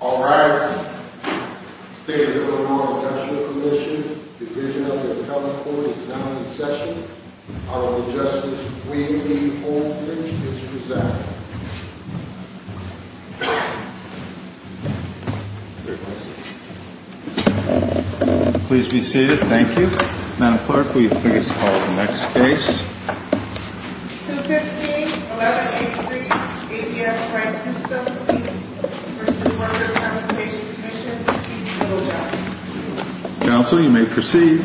All rise. The State of Illinois Commercial Commission, Division of the Appellate Court, is now in session. Honorable Justice Weavey Oldridge is present. Please be seated. Thank you. Madam Clerk, will you please call the next case? 215-1183 ADF Freight System, Inc. v. Workers' Compensation Commission, Inc. All rise. Counsel, you may proceed.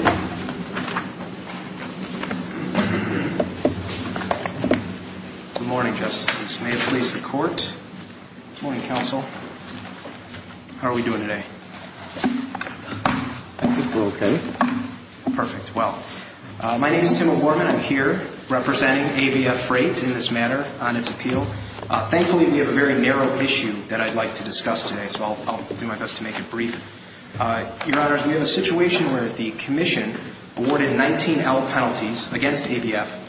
Good morning, Justices. May it please the Court? Good morning, Counsel. How are we doing today? I think we're okay. Perfect. Well, my name is Tim O'Gorman. I'm here representing ABF Freight in this matter on its appeal. Thankfully, we have a very narrow issue that I'd like to discuss today, so I'll do my best to make it brief. Your Honors, we have a situation where the Commission awarded 19 L penalties against ABF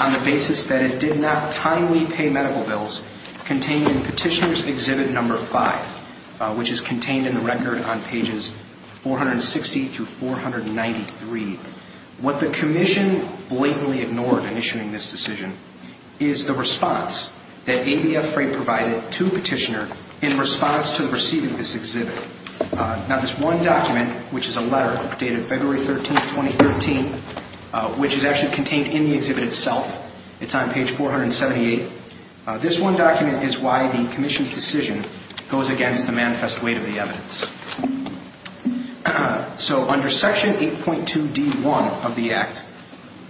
on the basis that it did not timely pay medical bills contained in Petitioner's Exhibit No. 5, which is contained in the record on pages 460-493. What the Commission blatantly ignored in issuing this decision is the response that ABF Freight provided to Petitioner in response to receiving this exhibit. Now, this one document, which is a letter dated February 13, 2013, which is actually contained in the exhibit itself, it's on page 478. This one document is why the Commission's decision goes against the manifest weight of the evidence. So under Section 8.2d.1 of the Act,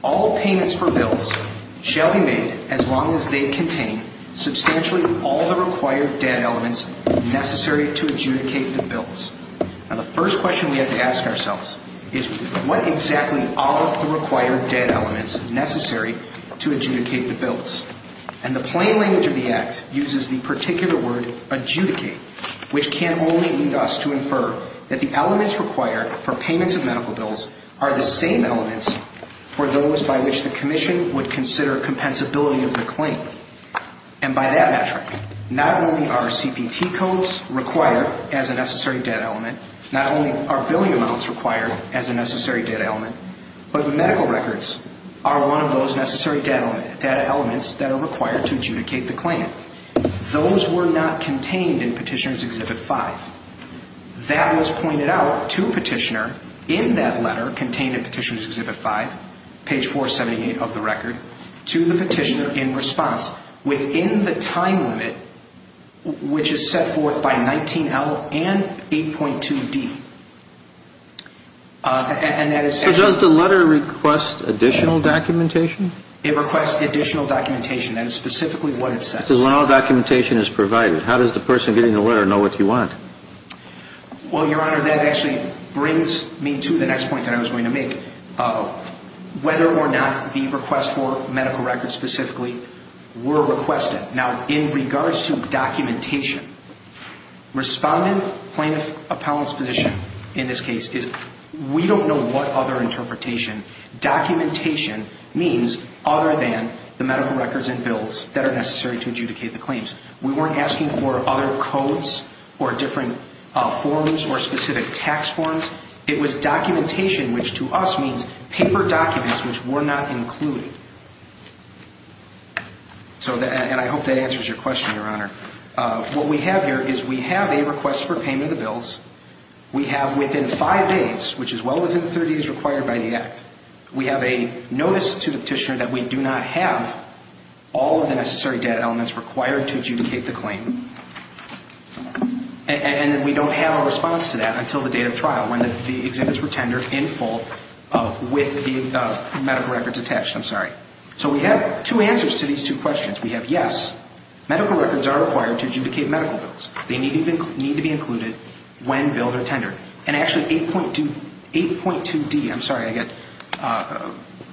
all payments for bills shall be made as long as they contain substantially all the required debt elements necessary to adjudicate the bills. Now, the first question we have to ask ourselves is what exactly are the required debt elements necessary to adjudicate the bills? And the plain language of the Act uses the particular word adjudicate, which can only lead us to infer that the elements required for payments of medical bills are the same elements for those by which the Commission would consider compensability of the claim. And by that metric, not only are CPT codes required as a necessary debt element, not only are billing amounts required as a necessary debt element, but the medical records are one of those necessary debt elements that are required to adjudicate the claim. Those were not contained in Petitioner's Exhibit 5. That was pointed out to Petitioner in that letter contained in Petitioner's Exhibit 5, page 478 of the record, to the Petitioner in response within the time limit, which is set forth by 19L and 8.2d. So does the letter request additional documentation? It requests additional documentation, and specifically what it says. Because when all documentation is provided, how does the person getting the letter know what you want? Well, Your Honor, that actually brings me to the next point that I was going to make. Whether or not the request for medical records specifically were requested. Now, in regards to documentation, Respondent Plaintiff Appellant's position in this case is we don't know what other interpretation. Documentation means other than the medical records and bills that are necessary to adjudicate the claims. We weren't asking for other codes or different forms or specific tax forms. It was documentation, which to us means paper documents which were not included. And I hope that answers your question, Your Honor. What we have here is we have a request for payment of the bills. We have within five days, which is well within the 30 days required by the Act, we have a notice to the Petitioner that we do not have all of the necessary data elements required to adjudicate the claim. And we don't have a response to that until the date of trial, when the exhibits were tendered in full with the medical records attached. I'm sorry. So we have two answers to these two questions. We have yes, medical records are required to adjudicate medical bills. They need to be included when bills are tendered. And actually 8.2D, I'm sorry, I get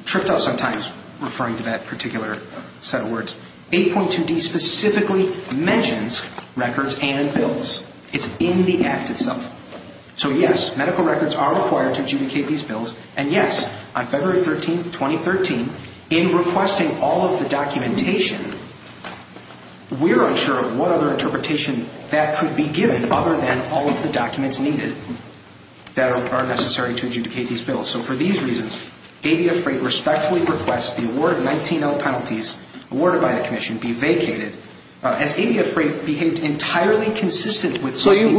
tripped up sometimes referring to that particular set of words. 8.2D specifically mentions records and bills. It's in the Act itself. So yes, medical records are required to adjudicate these bills. And yes, on February 13th, 2013, in requesting all of the documentation, we're unsure of what other interpretation that could be given other than all of the documents needed that are necessary to adjudicate these bills. So for these reasons, Avia Freight respectfully requests the award of 19L penalties awarded by the Commission be vacated. Has Avia Freight behaved entirely consistent with the agreement?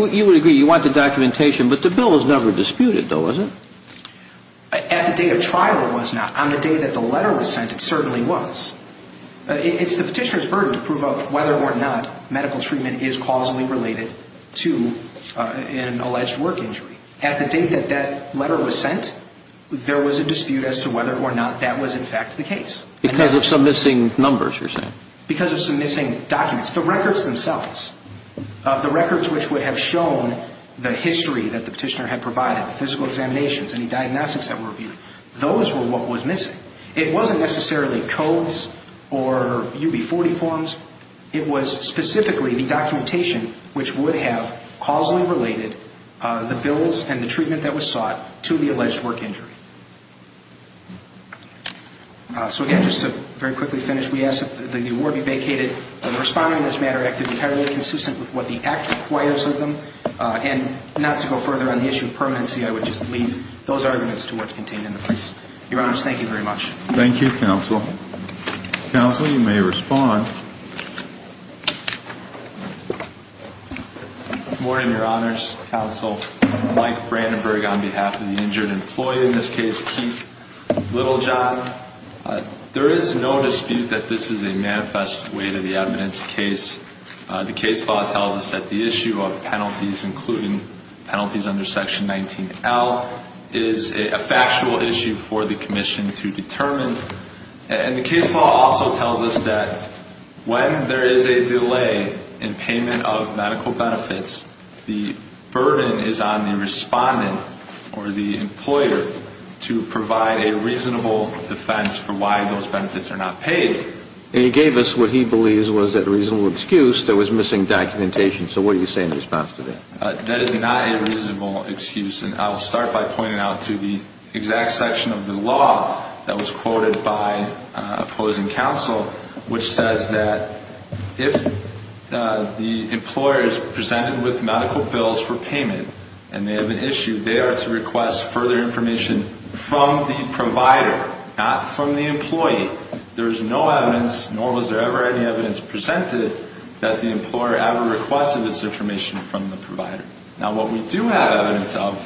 At the date of trial, it was not. On the day that the letter was sent, it certainly was. It's the petitioner's burden to prove whether or not medical treatment is causally related to an alleged work injury. At the date that that letter was sent, there was a dispute as to whether or not that was in fact the case. Because of some missing numbers, you're saying? Because of some missing documents. The records themselves. The records which would have shown the history that the petitioner had provided, the physical examinations, any diagnostics that were reviewed. Those were what was missing. It wasn't necessarily codes or UB40 forms. It was specifically the documentation which would have causally related the bills and the treatment that was sought to the alleged work injury. So, again, just to very quickly finish, we ask that the award be vacated. Responding in this matter acted entirely consistent with what the Act requires of them. And not to go further on the issue of permanency, I would just leave those arguments to what's contained in the briefs. Your Honors, thank you very much. Thank you, Counsel. Counsel, you may respond. Good morning, Your Honors. Counsel Mike Brandenburg on behalf of the injured employee, in this case, Keith Littlejohn. There is no dispute that this is a manifest way to the evidence case. The case law tells us that the issue of penalties, including penalties under Section 19L, is a factual issue for the Commission to determine. And the case law also tells us that when there is a delay in payment of medical benefits, the burden is on the respondent or the employer to provide a reasonable defense for why those benefits are not paid. And he gave us what he believes was a reasonable excuse that was missing documentation. So what do you say in response to that? That is not a reasonable excuse. And I'll start by pointing out to the exact section of the law that was quoted by opposing counsel, which says that if the employer is presented with medical bills for payment and they have an issue, they are to request further information from the provider, not from the employee. There is no evidence, nor was there ever any evidence presented, that the employer ever requested this information from the provider. Now, what we do have evidence of,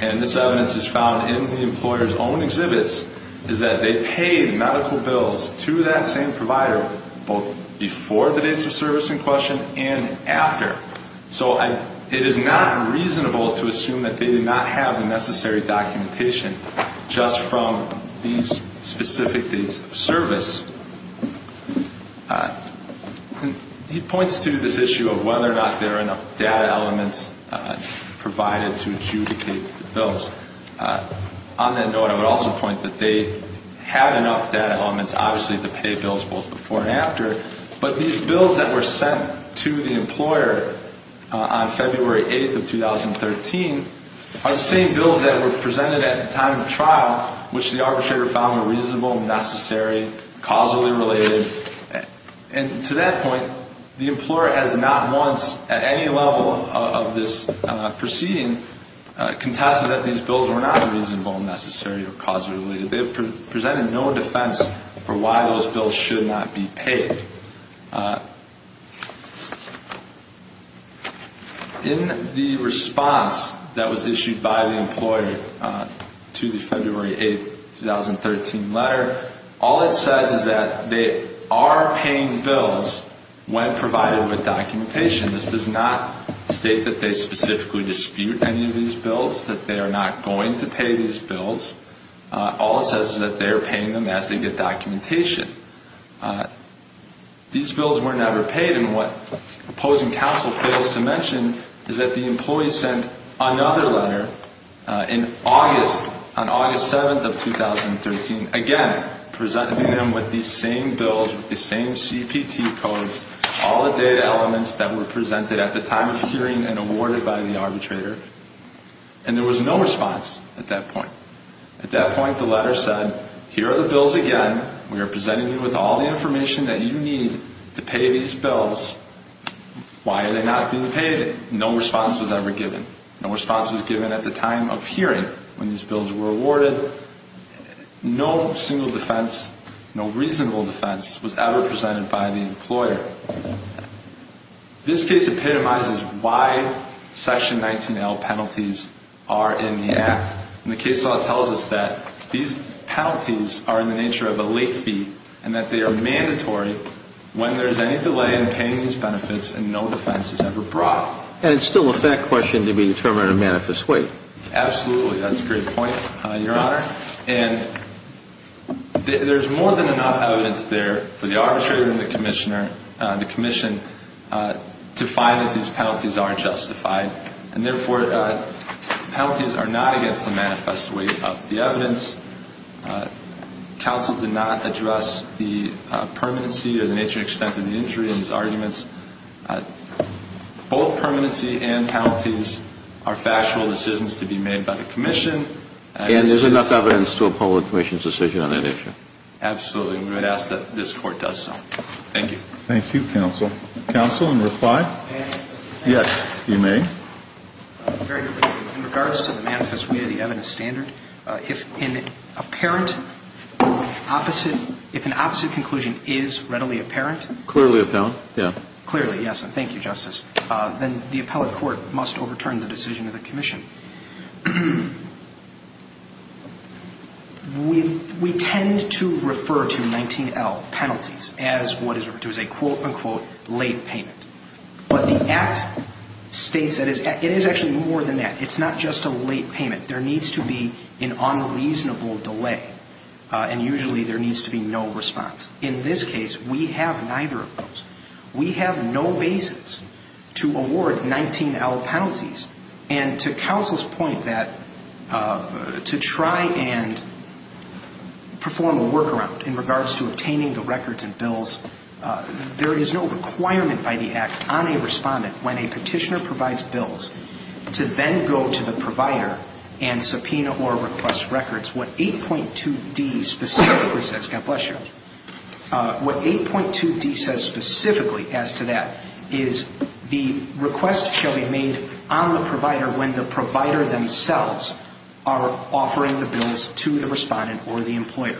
and this evidence is found in the employer's own exhibits, is that they paid medical bills to that same provider both before the dates of service in question and after. So it is not reasonable to assume that they did not have the necessary documentation just from these specific dates of service. He points to this issue of whether or not there are enough data elements provided to adjudicate the bills. On that note, I would also point that they had enough data elements, obviously, to pay bills both before and after, but these bills that were sent to the employer on February 8th of 2013 are the same bills that were presented at the time of trial, which the arbitrator found were reasonable, necessary, causally related. And to that point, the employer has not once, at any level of this proceeding, contested that these bills were not reasonable, necessary, or causally related. They have presented no defense for why those bills should not be paid. In the response that was issued by the employer to the February 8th, 2013 letter, all it says is that they are paying bills when provided with documentation. This does not state that they specifically dispute any of these bills, that they are not going to pay these bills. All it says is that they are paying them as they get documentation. These bills were never paid, and what opposing counsel fails to mention is that the employee sent another letter in August, on August 7th of 2013, again, presenting them with these same bills, the same CPT codes, all the data elements that were presented at the time of hearing and awarded by the arbitrator, and there was no response at that point. At that point, the letter said, here are the bills again. We are presenting you with all the information that you need to pay these bills. Why are they not being paid? No response was ever given. No response was given at the time of hearing when these bills were awarded. No single defense, no reasonable defense was ever presented by the employer. This case epitomizes why Section 19L penalties are in the Act. And the case law tells us that these penalties are in the nature of a late fee and that they are mandatory when there is any delay in paying these benefits and no defense is ever brought. And it's still a fact question to be determined in a manifest way. Absolutely. That's a great point, Your Honor. And there's more than enough evidence there for the arbitrator and the commissioner, the commission, to find that these penalties are justified. And, therefore, penalties are not against the manifest way of the evidence. Counsel did not address the permanency or the nature and extent of the injury in his arguments. Both permanency and penalties are factual decisions to be made by the commission. And there's enough evidence to approve the commission's decision on that issue. Absolutely. And we would ask that this Court does so. Thank you. Thank you, counsel. Counsel, in reply? May I? Yes, you may. Very quickly. In regards to the manifest way of the evidence standard, if an apparent opposite, if an opposite conclusion is readily apparent. Clearly apparent, yeah. Clearly, yes. And thank you, Justice. Then the appellate court must overturn the decision of the commission. We tend to refer to 19L penalties as what is referred to as a, quote, unquote, late payment. But the Act states that it is actually more than that. It's not just a late payment. There needs to be an unreasonable delay. And, usually, there needs to be no response. In this case, we have neither of those. We have no basis to award 19L penalties. And to counsel's point that to try and perform a workaround in regards to obtaining the records and bills, there is no requirement by the Act on a respondent when a petitioner provides bills to then go to the provider and subpoena or request records. What 8.2d specifically says, God bless you, what 8.2d says specifically as to that is the request shall be made on the provider when the provider themselves are offering the bills to the respondent or the employer.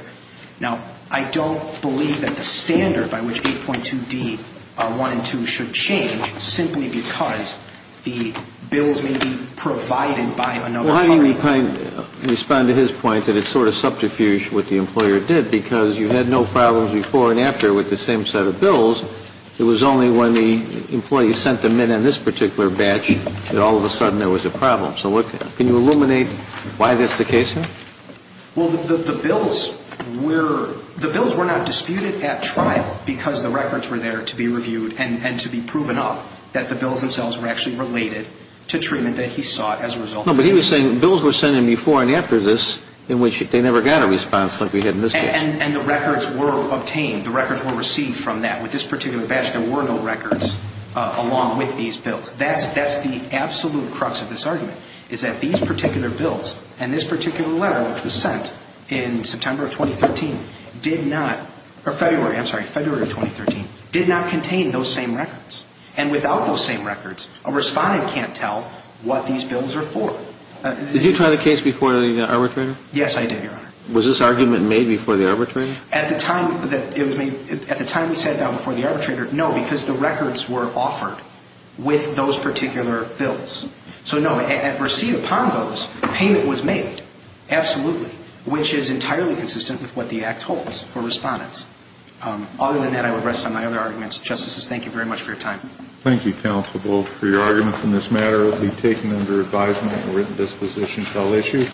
Now, I don't believe that the standard by which 8.2d 1 and 2 should change simply because the bills may be provided by another. Well, how do you respond to his point that it's sort of subterfuge what the employer did? Because you had no problems before and after with the same set of bills. It was only when the employee sent them in on this particular batch that all of a sudden there was a problem. So can you illuminate why that's the case? Well, the bills were not disputed at trial because the records were there to be reviewed and to be proven up, that the bills themselves were actually related to treatment that he sought as a result. No, but he was saying bills were sent in before and after this in which they never got a response like we had in this case. And the records were obtained. The records were received from that. With this particular batch, there were no records along with these bills. That's the absolute crux of this argument, is that these particular bills and this particular letter, which was sent in September of 2013, did not or February, I'm sorry, February of 2013, did not contain those same records. And without those same records, a respondent can't tell what these bills are for. Did you try the case before the arbitrator? Yes, I did, Your Honor. Was this argument made before the arbitrator? At the time that it was made, at the time we sat down before the arbitrator, no, because the records were offered with those particular bills. So, no, and received upon those, payment was made, absolutely, which is entirely consistent with what the Act holds for respondents. Other than that, I would rest on my other arguments. Justices, thank you very much for your time. Thank you, counsel, both for your arguments in this matter. It will be taken under advisement and written disposition until issued.